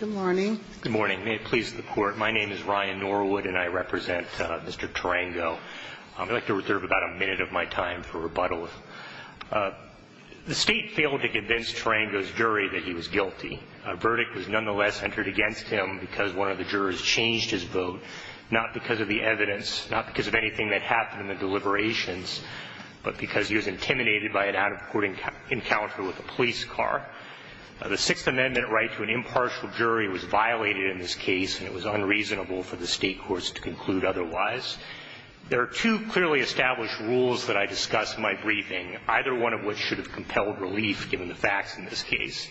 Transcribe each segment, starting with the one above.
Good morning. Good morning. May it please the Court, my name is Ryan Norwood and I represent Mr. Tarango. I'd like to reserve about a minute of my time for rebuttal. The State failed to convince Tarango's jury that he was guilty. A verdict was nonetheless entered against him because one of the jurors changed his vote, not because of the evidence, not because of anything that happened in the deliberations, but because he was intimidated by an out-of-court encounter with a police car. The Sixth Amendment right to an impartial jury was violated in this case and it was unreasonable for the State courts to conclude otherwise. There are two clearly established rules that I discuss in my briefing, either one of which should have compelled relief given the facts in this case.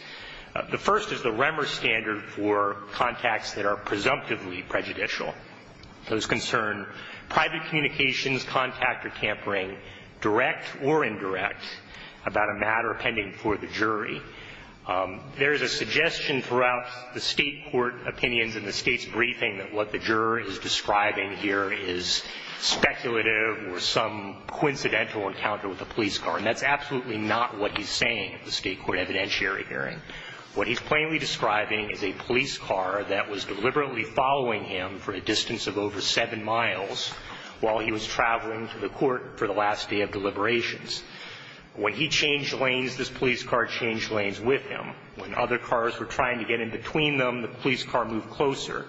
The first is the REMER standard for contacts that are presumptively prejudicial. Those concern private communications, contact, or tampering, direct or indirect, about a matter pending for the jury. There is a suggestion throughout the State court opinions in the State's briefing that what the juror is describing here is speculative or some coincidental encounter with a police car, and that's absolutely not what he's saying at the State court evidentiary hearing. What he's plainly describing is a police car that was deliberately following him for a distance of over seven miles while he was traveling to the court for the last day of deliberations. When he changed lanes, this police car changed lanes with him. When other cars were trying to get in between them, the police car moved closer.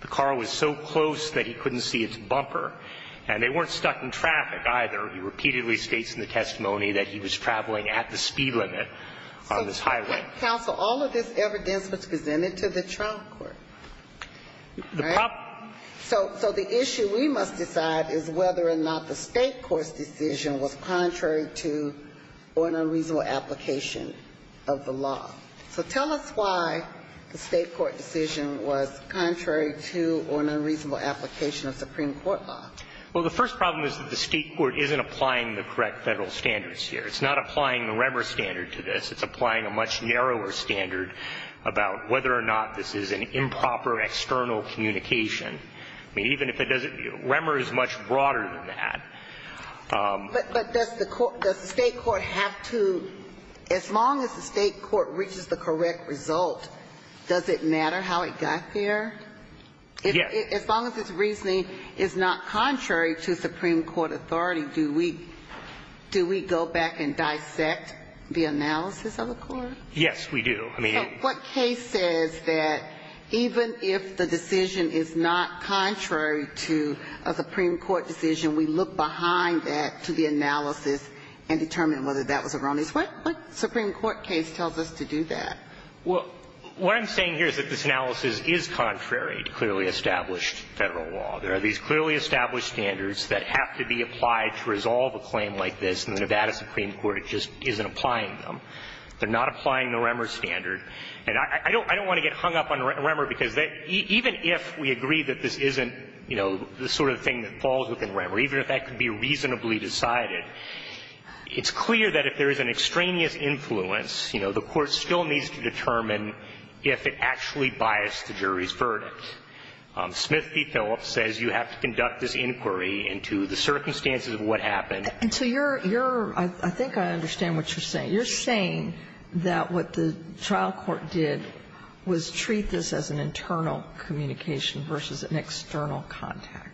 The car was so close that he couldn't see its bumper. And they weren't stuck in traffic, either. He repeatedly states in the testimony that he was traveling at the speed limit on this highway. So, counsel, all of this evidence was presented to the trial court, right? The problem So the issue we must decide is whether or not the State court's decision was contrary to or an unreasonable application of the law. So tell us why the State court decision was contrary to or an unreasonable application of Supreme Court law. Well, the first problem is that the State court isn't applying the correct Federal standards here. It's not applying the Remmer standard to this. It's applying a much narrower standard about whether or not this is an improper external communication. I mean, even if it doesn't Remmer is much broader than that. But does the State court have to, as long as the State court reaches the correct result, does it matter how it got there? Yes. As long as its reasoning is not contrary to Supreme Court authority, do we go back and dissect the analysis of the court? Yes, we do. So what case says that even if the decision is not contrary to a Supreme Court decision, we look behind that to the analysis and determine whether that was erroneous? What Supreme Court case tells us to do that? Well, what I'm saying here is that this analysis is contrary to clearly established Federal law. There are these clearly established standards that have to be applied to resolve a claim like this, and the Nevada Supreme Court just isn't applying them. They're not applying the Remmer standard. And I don't want to get hung up on Remmer, because even if we agree that this isn't, you know, the sort of thing that falls within Remmer, even if that could be reasonably decided, it's clear that if there is an extraneous influence, you know, the court still needs to determine if it actually biased the jury's verdict. Smith v. Phillips says you have to conduct this inquiry into the circumstances of what happened. And so you're, you're, I think I understand what you're saying. You're saying that what the trial court did was treat this as an internal communication versus an external contact.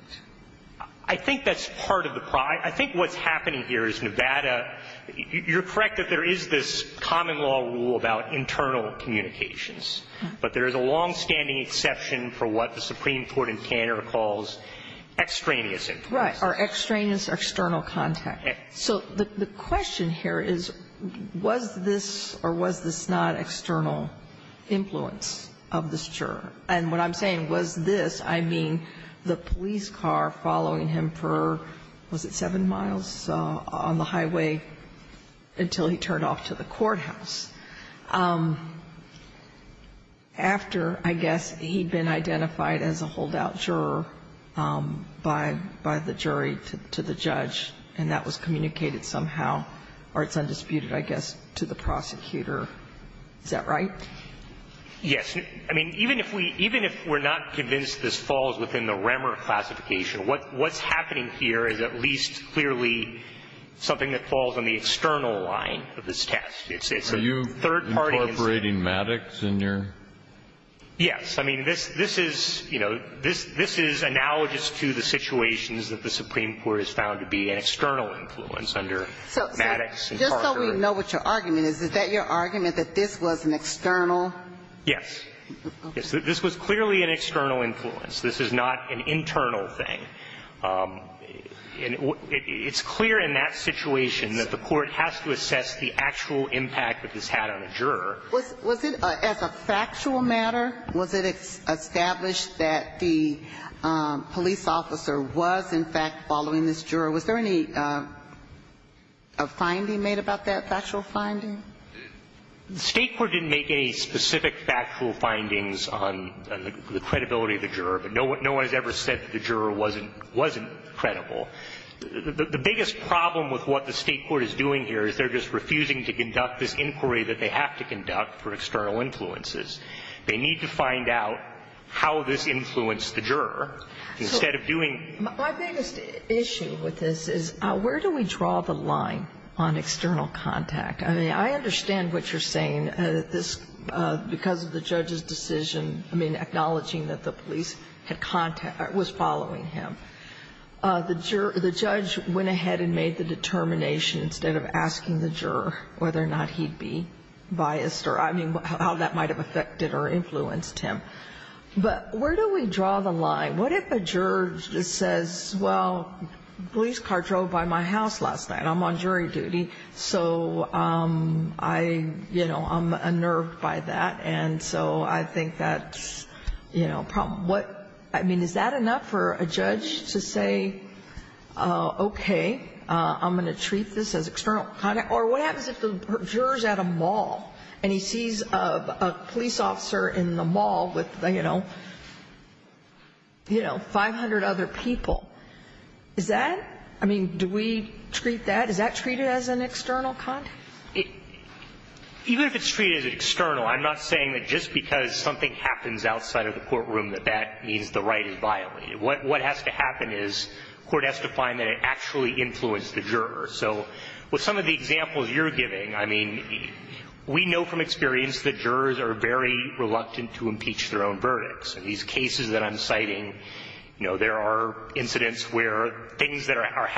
I think that's part of the problem. I think what's happening here is Nevada, you're correct that there is this common law rule about internal communications, but there is a longstanding exception for what the Supreme Court in Canada calls extraneous influence. Right. Or extraneous external contact. Okay. So the question here is, was this or was this not external influence of this juror? And what I'm saying, was this, I mean, the police car following him for, was it seven miles on the highway until he turned off to the courthouse? After, I guess, he'd been identified as a holdout juror by, by the jury to the judge and that was communicated somehow, or it's undisputed, I guess, to the prosecutor. Is that right? Yes. I mean, even if we, even if we're not convinced this falls within the Remmer classification, what, what's happening here is at least clearly something that falls on the external line of this test. It's, it's a third party. Are you incorporating Maddox in your? Yes. I mean, this, this is, you know, this, this is analogous to the situations that the Supreme Court has found to be an external influence under Maddox. So just so we know what your argument is, is that your argument that this was an external? Yes. Yes. This was clearly an external influence. This is not an internal thing. And it's clear in that situation that the court has to assess the actual impact that this had on a juror. Was, was it, as a factual matter, was it established that the police officer was, in fact, following this juror? Was there any, a finding made about that factual finding? The State court didn't make any specific factual findings on, on the credibility of the juror, but no one, no one has ever said that the juror wasn't, wasn't credible. The, the biggest problem with what the State court is doing here is they're just refusing to conduct this inquiry that they have to conduct for external influences. They need to find out how this influenced the juror instead of doing. My biggest issue with this is where do we draw the line on external contact? I mean, I understand what you're saying, that this, because of the judge's decision, I mean, acknowledging that the police had contact, was following him. The juror, the judge went ahead and made the determination instead of asking the juror whether or not he'd be biased or, I mean, how that might have affected or influenced him. But where do we draw the line? What if a juror says, well, police car drove by my house last night. I'm on jury duty. So I, you know, I'm unnerved by that. And so I think that's, you know, a problem. What, I mean, is that enough for a judge to say, okay, I'm going to treat this as external contact? Or what happens if the juror's at a mall and he sees a police officer in the mall with, you know, you know, 500 other people? Is that, I mean, do we treat that? Is that treated as an external contact? Even if it's treated as external, I'm not saying that just because something happens outside of the courtroom that that means the right is violated. What has to happen is court has to find that it actually influenced the juror. So with some of the examples you're giving, I mean, we know from experience that jurors are very reluctant to impeach their own verdicts. In these cases that I'm citing, you know, there are incidents where things that are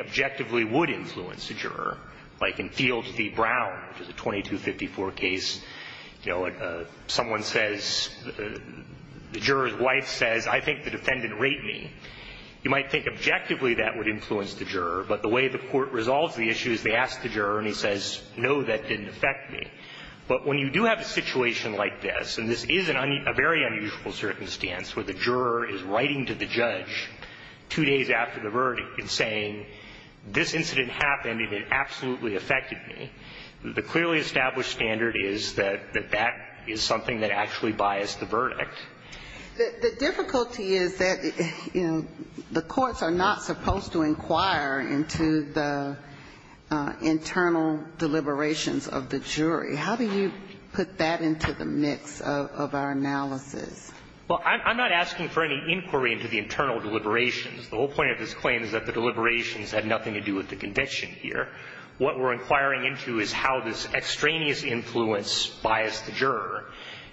objectively would influence the juror, like in Field v. Brown, the 2254 case, you know, someone says, the juror's wife says, I think the defendant raped me. You might think objectively that would influence the juror, but the way the court resolves the issue is they ask the juror and he says, no, that didn't affect me. But when you do have a situation like this, and this is a very unusual circumstance where the juror is writing to the judge two days after the verdict and saying, this incident happened and it absolutely affected me, the clearly established standard is that that is something that actually biased the verdict. The difficulty is that, you know, the courts are not supposed to inquire into the internal deliberations of the jury. How do you put that into the mix of our analysis? Well, I'm not asking for any inquiry into the internal deliberations. The whole point of this claim is that the deliberations have nothing to do with the conviction here. What we're inquiring into is how this extraneous influence biased the juror.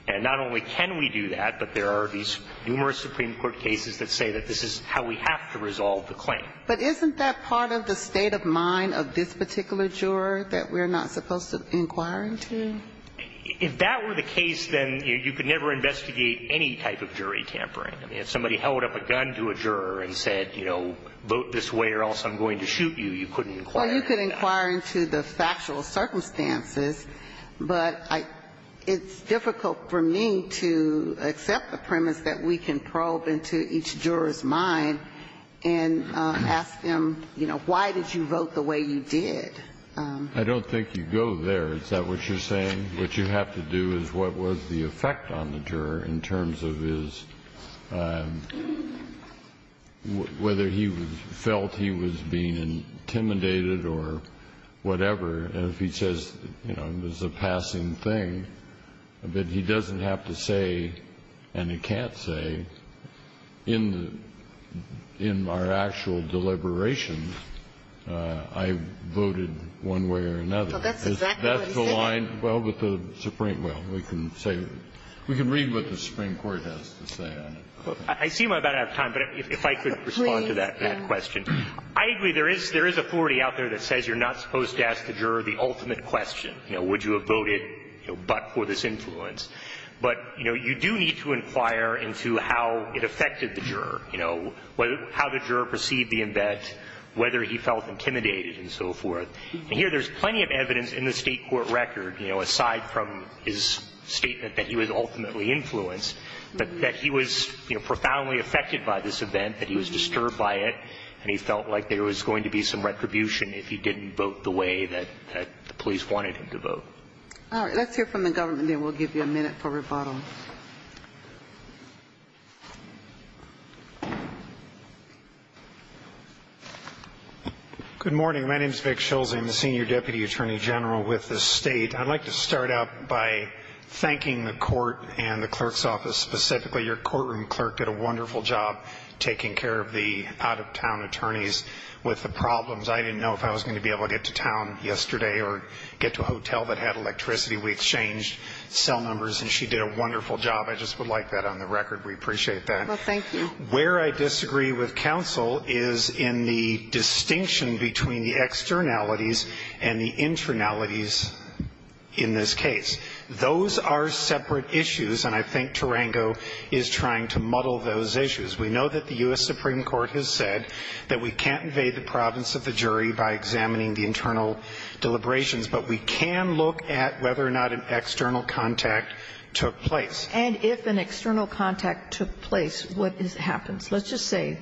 And not only can we do that, but there are these numerous Supreme Court cases that say that this is how we have to resolve the claim. But isn't that part of the state of mind of this particular juror that we're not supposed to inquire into? If that were the case, then you could never investigate any type of jury tampering. I mean, if somebody held up a gun to a juror and said, you know, vote this way or else I'm going to shoot you, you couldn't inquire into that. Well, you could inquire into the factual circumstances, but it's difficult for me to accept the premise that we can probe into each juror's mind and ask them, you know, why did you vote the way you did? I don't think you go there. Is that what you're saying? What you have to do is what was the effect on the juror in terms of his – whether he felt he was being intimidated or whatever. And if he says, you know, it was a passing thing, but he doesn't have to say and he can't say, in the – in our actual deliberations, I voted one way or another. Well, that's exactly what he said. That's aligned well with the Supreme – well, we can say – we can read what the Supreme Court has to say on it. I see we're about out of time, but if I could respond to that question. Please. I agree there is – there is authority out there that says you're not supposed to ask the juror the ultimate question, you know, would you have voted, you know, but for this influence. But, you know, you do need to inquire into how it affected the juror, you know, how the juror perceived the embed, whether he felt intimidated and so forth. And here, there's plenty of evidence in the State court record, you know, aside from his statement that he was ultimately influenced, that he was, you know, profoundly affected by this event, that he was disturbed by it, and he felt like there was going to be some retribution if he didn't vote the way that the police wanted him to vote. All right. Let's hear from the government, and then we'll give you a minute for rebuttal. Good morning. My name is Vic Schulze. I'm the Senior Deputy Attorney General with the State. I'd like to start out by thanking the court and the clerk's office specifically. Your courtroom clerk did a wonderful job taking care of the out-of-town attorneys with the problems. I didn't know if I was going to be able to get to town yesterday or get to a hotel We exchanged cell numbers, and she did a wonderful job. I just would like that on the record. We appreciate that. Well, thank you. Where I disagree with counsel is in the distinction between the externalities and the internalities in this case. Those are separate issues, and I think Tarango is trying to muddle those issues. We know that the U.S. Supreme Court has said that we can't invade the province of the jury by examining the internal deliberations, but we can look at whether or not an external contact took place. And if an external contact took place, what happens? Let's just say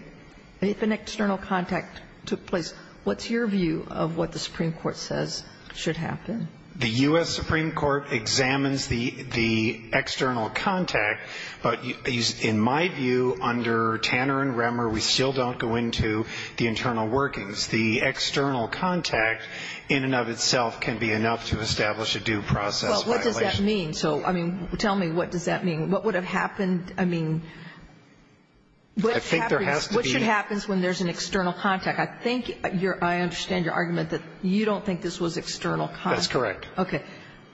if an external contact took place, what's your view of what the Supreme Court says should happen? The U.S. Supreme Court examines the external contact, but in my view, under Tanner and Remmer, we still don't go into the internal workings. The external contact in and of itself can be enough to establish a due process violation. Well, what does that mean? So, I mean, tell me what does that mean? What would have happened? I mean, what should happen when there's an external contact? I think your – I understand your argument that you don't think this was external contact. That's correct. Okay.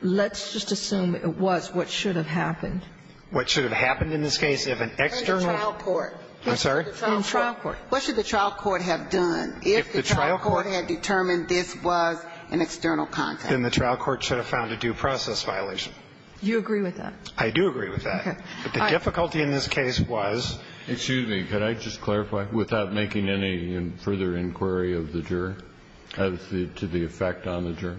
Let's just assume it was. What should have happened? What should have happened in this case? If an external – In the trial court. I'm sorry? In the trial court. If the trial court had determined this was an external contact. Then the trial court should have found a due process violation. You agree with that? I do agree with that. But the difficulty in this case was – Excuse me. Could I just clarify, without making any further inquiry of the juror, to the effect on the juror?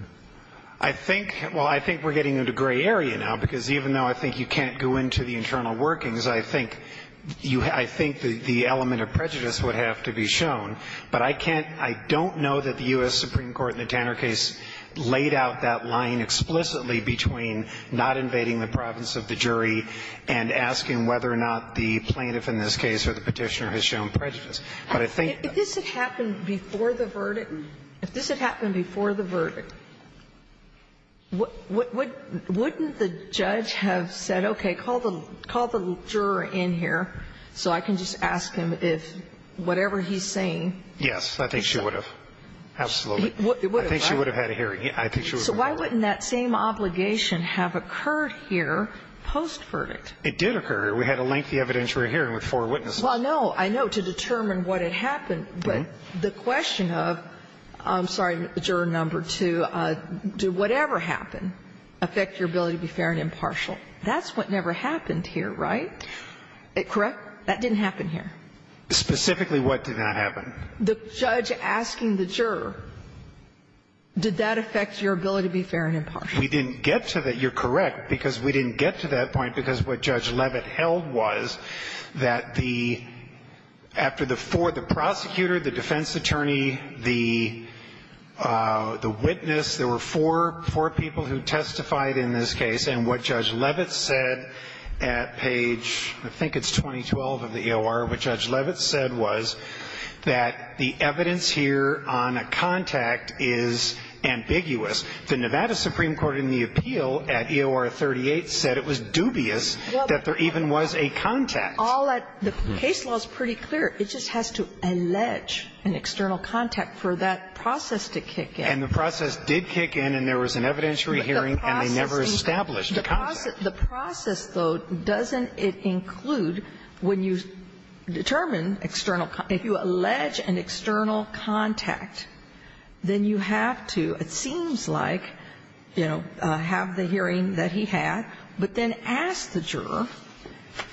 I think – well, I think we're getting into gray area now, because even though I think you can't go into the internal workings, I think you – I think the element of prejudice would have to be shown. But I can't – I don't know that the U.S. Supreme Court in the Tanner case laid out that line explicitly between not invading the province of the jury and asking whether or not the plaintiff in this case or the Petitioner has shown prejudice. But I think – If this had happened before the verdict – if this had happened before the verdict, wouldn't the judge have said, okay, call the – call the juror in here so I can just ask him if whatever he's saying is true? Yes. I think she would have. Absolutely. It would have, right? I think she would have had a hearing. I think she would have had a hearing. So why wouldn't that same obligation have occurred here post-verdict? It did occur. We had a lengthy evidentiary hearing with four witnesses. Well, no. I know. To determine what had happened. But the question of – I'm sorry, juror number two, do whatever happened affect your ability to be fair and impartial? That's what never happened here, right? Correct? That didn't happen here. Specifically, what did not happen? The judge asking the juror, did that affect your ability to be fair and impartial? We didn't get to that. You're correct, because we didn't get to that point because what Judge Leavitt held was that the – after the four – the prosecutor, the defense attorney, the witness, there were four people who testified in this case. And what Judge Leavitt said at page – I think it's 2012 of the EOR – what Judge Leavitt said was that the evidence here on a contact is ambiguous. The Nevada Supreme Court in the appeal at EOR 38 said it was dubious that there even was a contact. All that – the case law is pretty clear. It just has to allege an external contact for that process to kick in. And the process did kick in, and there was an evidentiary hearing, and they never established a contact. The process, though, doesn't it include when you determine external – if you allege an external contact, then you have to, it seems like, you know, have the hearing that he had, but then ask the juror,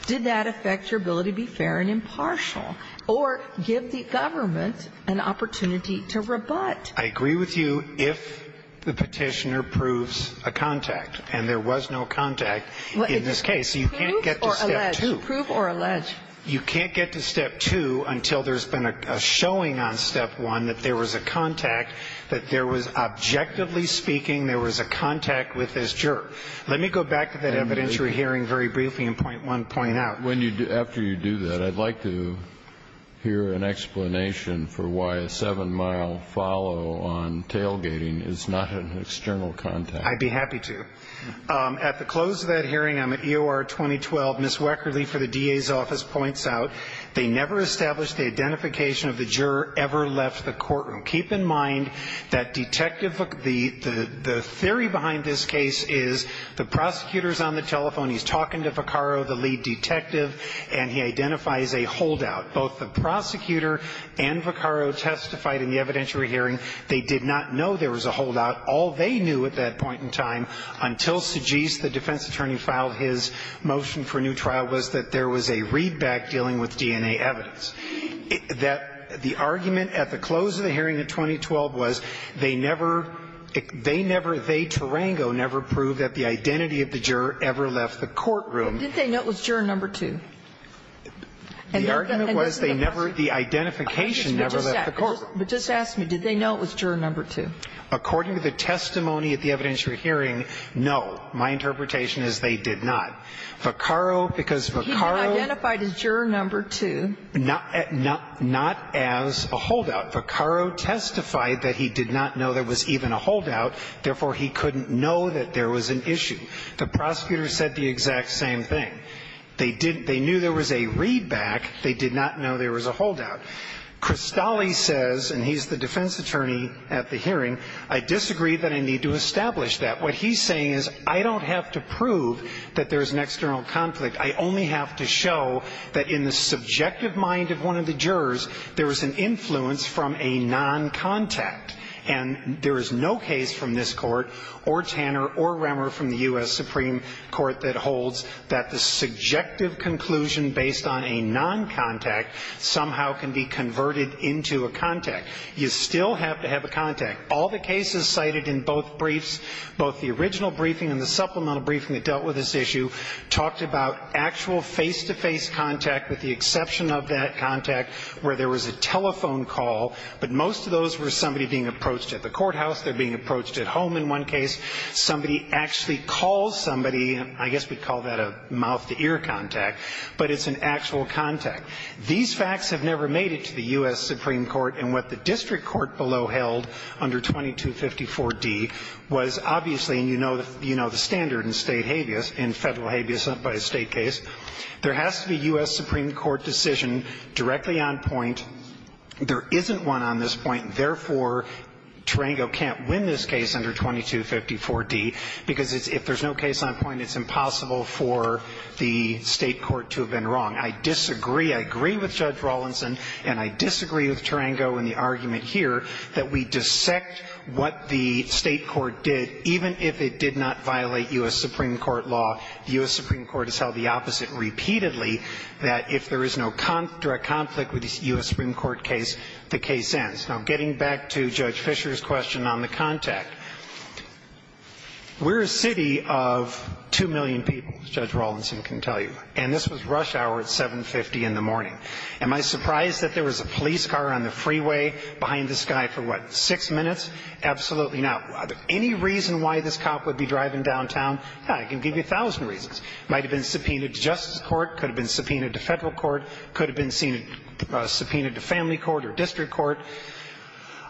did that affect your ability to be fair and impartial, or give the government an opportunity to rebut? I agree with you if the Petitioner proves a contact, and there was no contact in this case. You can't get to Step 2. Prove or allege. You can't get to Step 2 until there's been a showing on Step 1 that there was a contact, that there was, objectively speaking, there was a contact with this juror. Let me go back to that evidentiary hearing very briefly and point one point out. After you do that, I'd like to hear an explanation for why a 7-mile follow on tailgating is not an external contact. I'd be happy to. At the close of that hearing on the EOR 2012, Ms. Weckerle for the DA's office points out they never established the identification of the juror ever left the courtroom. Keep in mind that detective – the theory behind this case is the prosecutor's on the telephone. He's talking to Vaccaro, the lead detective, and he identifies a holdout. Both the prosecutor and Vaccaro testified in the evidentiary hearing. They did not know there was a holdout. All they knew at that point in time, until Sijis, the defense attorney, filed his motion for new trial, was that there was a readback dealing with DNA evidence. That the argument at the close of the hearing in 2012 was they never – they never – did the juror ever left the courtroom. But did they know it was juror number 2? The argument was they never – the identification never left the courtroom. But just ask me, did they know it was juror number 2? According to the testimony at the evidentiary hearing, no. My interpretation is they did not. Vaccaro, because Vaccaro – He identified as juror number 2. Not as a holdout. Vaccaro testified that he did not know there was even a holdout, therefore, he couldn't know that there was an issue. The prosecutor said the exact same thing. They didn't – they knew there was a readback. They did not know there was a holdout. Cristalli says, and he's the defense attorney at the hearing, I disagree that I need to establish that. What he's saying is I don't have to prove that there's an external conflict. I only have to show that in the subjective mind of one of the jurors, there was an influence from a non-contact. And there is no case from this Court or Tanner or Remmer from the U.S. Supreme Court that holds that the subjective conclusion based on a non-contact somehow can be converted into a contact. You still have to have a contact. All the cases cited in both briefs, both the original briefing and the supplemental briefing that dealt with this issue, talked about actual face-to-face contact with the exception of that contact where there was a telephone call, but most of those were somebody being approached at the courthouse, they're being approached at home in one case. Somebody actually calls somebody, and I guess we call that a mouth-to-ear contact, but it's an actual contact. These facts have never made it to the U.S. Supreme Court, and what the district court below held under 2254D was obviously, and you know the standard in state habeas, in federal habeas by a state case, there has to be a U.S. Supreme Court decision directly on point. There isn't one on this point. Therefore, Tarango can't win this case under 2254D, because if there's no case on point, it's impossible for the state court to have been wrong. I disagree. I agree with Judge Rawlinson, and I disagree with Tarango in the argument here that we dissect what the state court did, even if it did not violate U.S. Supreme Court law. The U.S. Supreme Court has held the opposite repeatedly, that if there is no direct conflict with the U.S. Supreme Court case, the case ends. Now, getting back to Judge Fischer's question on the contact, we're a city of 2 million people, as Judge Rawlinson can tell you, and this was rush hour at 7.50 in the morning. Am I surprised that there was a police car on the freeway behind this guy for, what, six minutes? Absolutely not. Any reason why this cop would be driving downtown, I can give you a thousand reasons. Might have been subpoenaed to justice court. Could have been subpoenaed to Federal court. Could have been seen subpoenaed to family court or district court.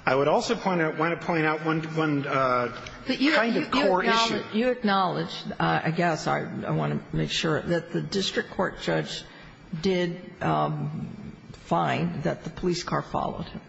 I would also point out, want to point out one kind of core issue. But you acknowledge, I guess I want to make sure, that the district court judge did find that the police car followed him.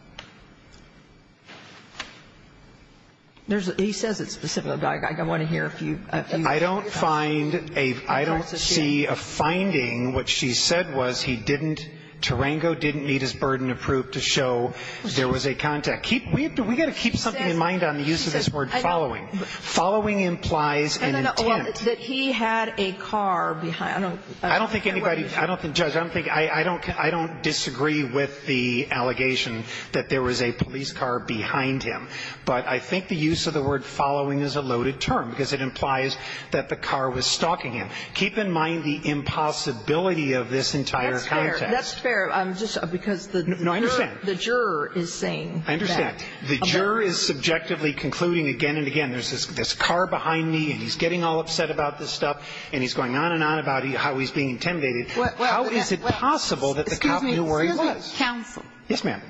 There's a – he says it specifically. I want to hear a few of your thoughts. I don't find a – I don't see a finding. What she said was he didn't – Tarango didn't meet his burden of proof to show there was a contact. We've got to keep something in mind on the use of this word following. Following implies an intent. That he had a car behind. I don't think anybody – I don't think – Judge, I don't think – I don't disagree with the allegation that there was a police car behind him. But I think the use of the word following is a loaded term, because it implies that the car was stalking him. Keep in mind the impossibility of this entire context. That's fair. That's fair. I'm just – because the – No, I understand. The juror is saying that. I understand. The juror is subjectively concluding again and again, there's this car behind me and he's getting all upset about this stuff, and he's going on and on about how he's being intimidated. How is it possible that the cop knew where he was? Excuse me. Excuse me, counsel. Yes, ma'am.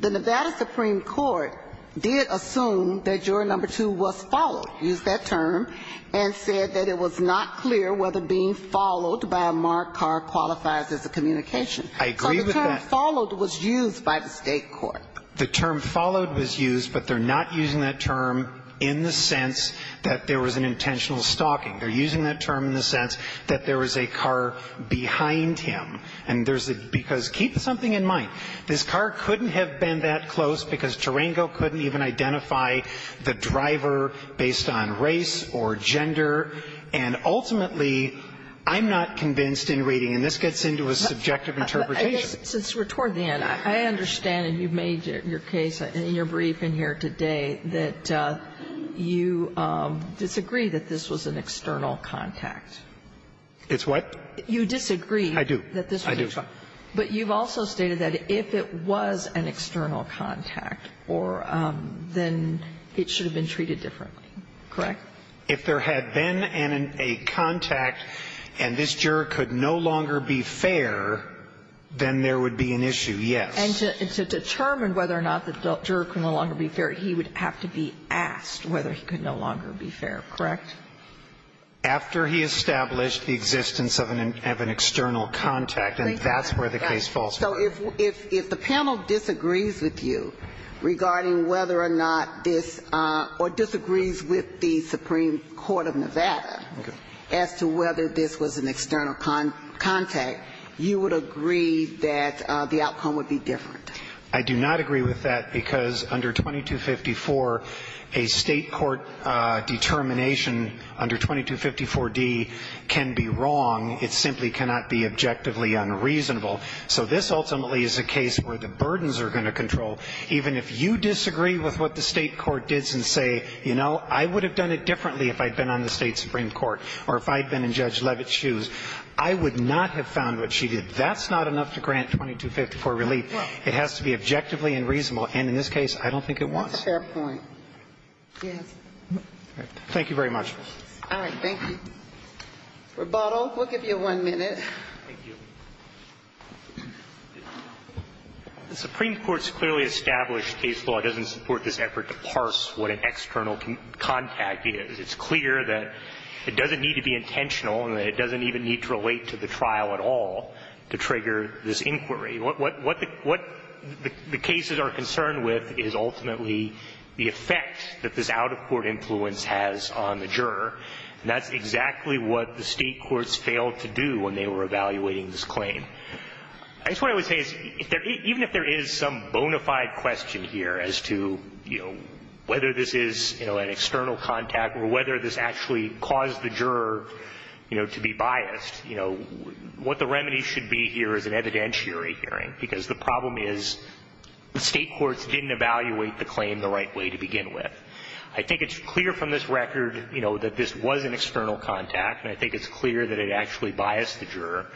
The Nevada Supreme Court did assume that juror number two was followed, used that term, and said that it was not clear whether being followed by a marked car qualifies as a communication. I agree with that. So the term followed was used by the state court. The term followed was used, but they're not using that term in the sense that there was an intentional stalking. They're using that term in the sense that there was a car behind him. And there's a – because keep something in mind. This car couldn't have been that close because Tarango couldn't even identify the driver based on race or gender, and ultimately, I'm not convinced in reading, and this gets into a subjective interpretation. Since we're toward the end, I understand, and you've made your case in your brief in here today, that you disagree that this was an external contact. It's what? You disagree. I do. But you've also stated that if it was an external contact, then it should have been treated differently, correct? If there had been a contact and this juror could no longer be fair, then there would be an issue, yes. And to determine whether or not the juror could no longer be fair, he would have to be asked whether he could no longer be fair, correct? After he established the existence of an external contact, and that's where the case falls apart. So if the panel disagrees with you regarding whether or not this or disagrees with the Supreme Court of Nevada as to whether this was an external contact, you would agree that the outcome would be different. I do not agree with that because under 2254, a state court determination under 2254D can be wrong. It simply cannot be objectively unreasonable. So this ultimately is a case where the burdens are going to control. Even if you disagree with what the state court did and say, you know, I would have done it differently if I had been on the state Supreme Court or if I had been in Judge Levitt's shoes, I would not have found what she did. That's not enough to grant 2254 relief. It has to be objectively unreasonable. And in this case, I don't think it was. That's a fair point. Yes. Thank you very much. All right. Thank you. Rebuttal. We'll give you one minute. Thank you. The Supreme Court's clearly established case law doesn't support this effort to parse what an external contact is. It's clear that it doesn't need to be intentional and that it doesn't even need to relate to the trial at all to trigger this inquiry. What the cases are concerned with is ultimately the effect that this out-of-court influence has on the juror, and that's exactly what the state courts failed to do when they were evaluating this claim. I guess what I would say is, even if there is some bona fide question here as to, you know, whether this is, you know, an external contact or whether this actually caused the juror, you know, to be biased, you know, what the remedy should be here is an evidentiary hearing, because the problem is the state courts didn't evaluate the claim the right way to begin with. I think it's clear from this record, you know, that this was an external contact, and I think it's clear that it actually biased the juror.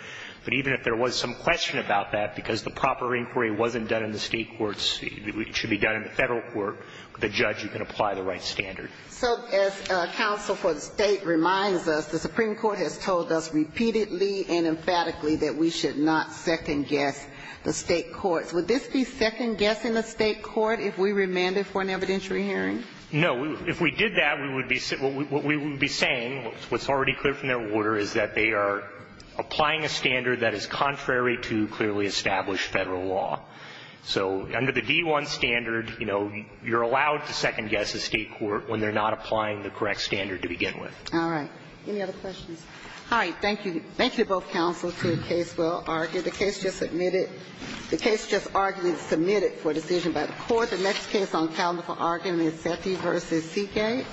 But even if there was some question about that, because the proper inquiry wasn't done in the state courts, it should be done in the federal court, the judge, you can apply the right standard. So as counsel for the state reminds us, the Supreme Court has told us repeatedly and emphatically that we should not second-guess the state courts. Would this be second-guessing the state court if we remanded for an evidentiary hearing? No. If we did that, we would be saying, what's already clear from their order is that they are applying a standard that is contrary to clearly established federal law. So under the D-1 standard, you know, you're allowed to second-guess a state court when they're not applying the correct standard to begin with. All right. Any other questions? All right. Thank you. Thank you, both counsel, to the case well argued. The case just submitted. The case just argued and submitted for decision by the Court. The next case on calendar for argument is Sethi v. Seegate.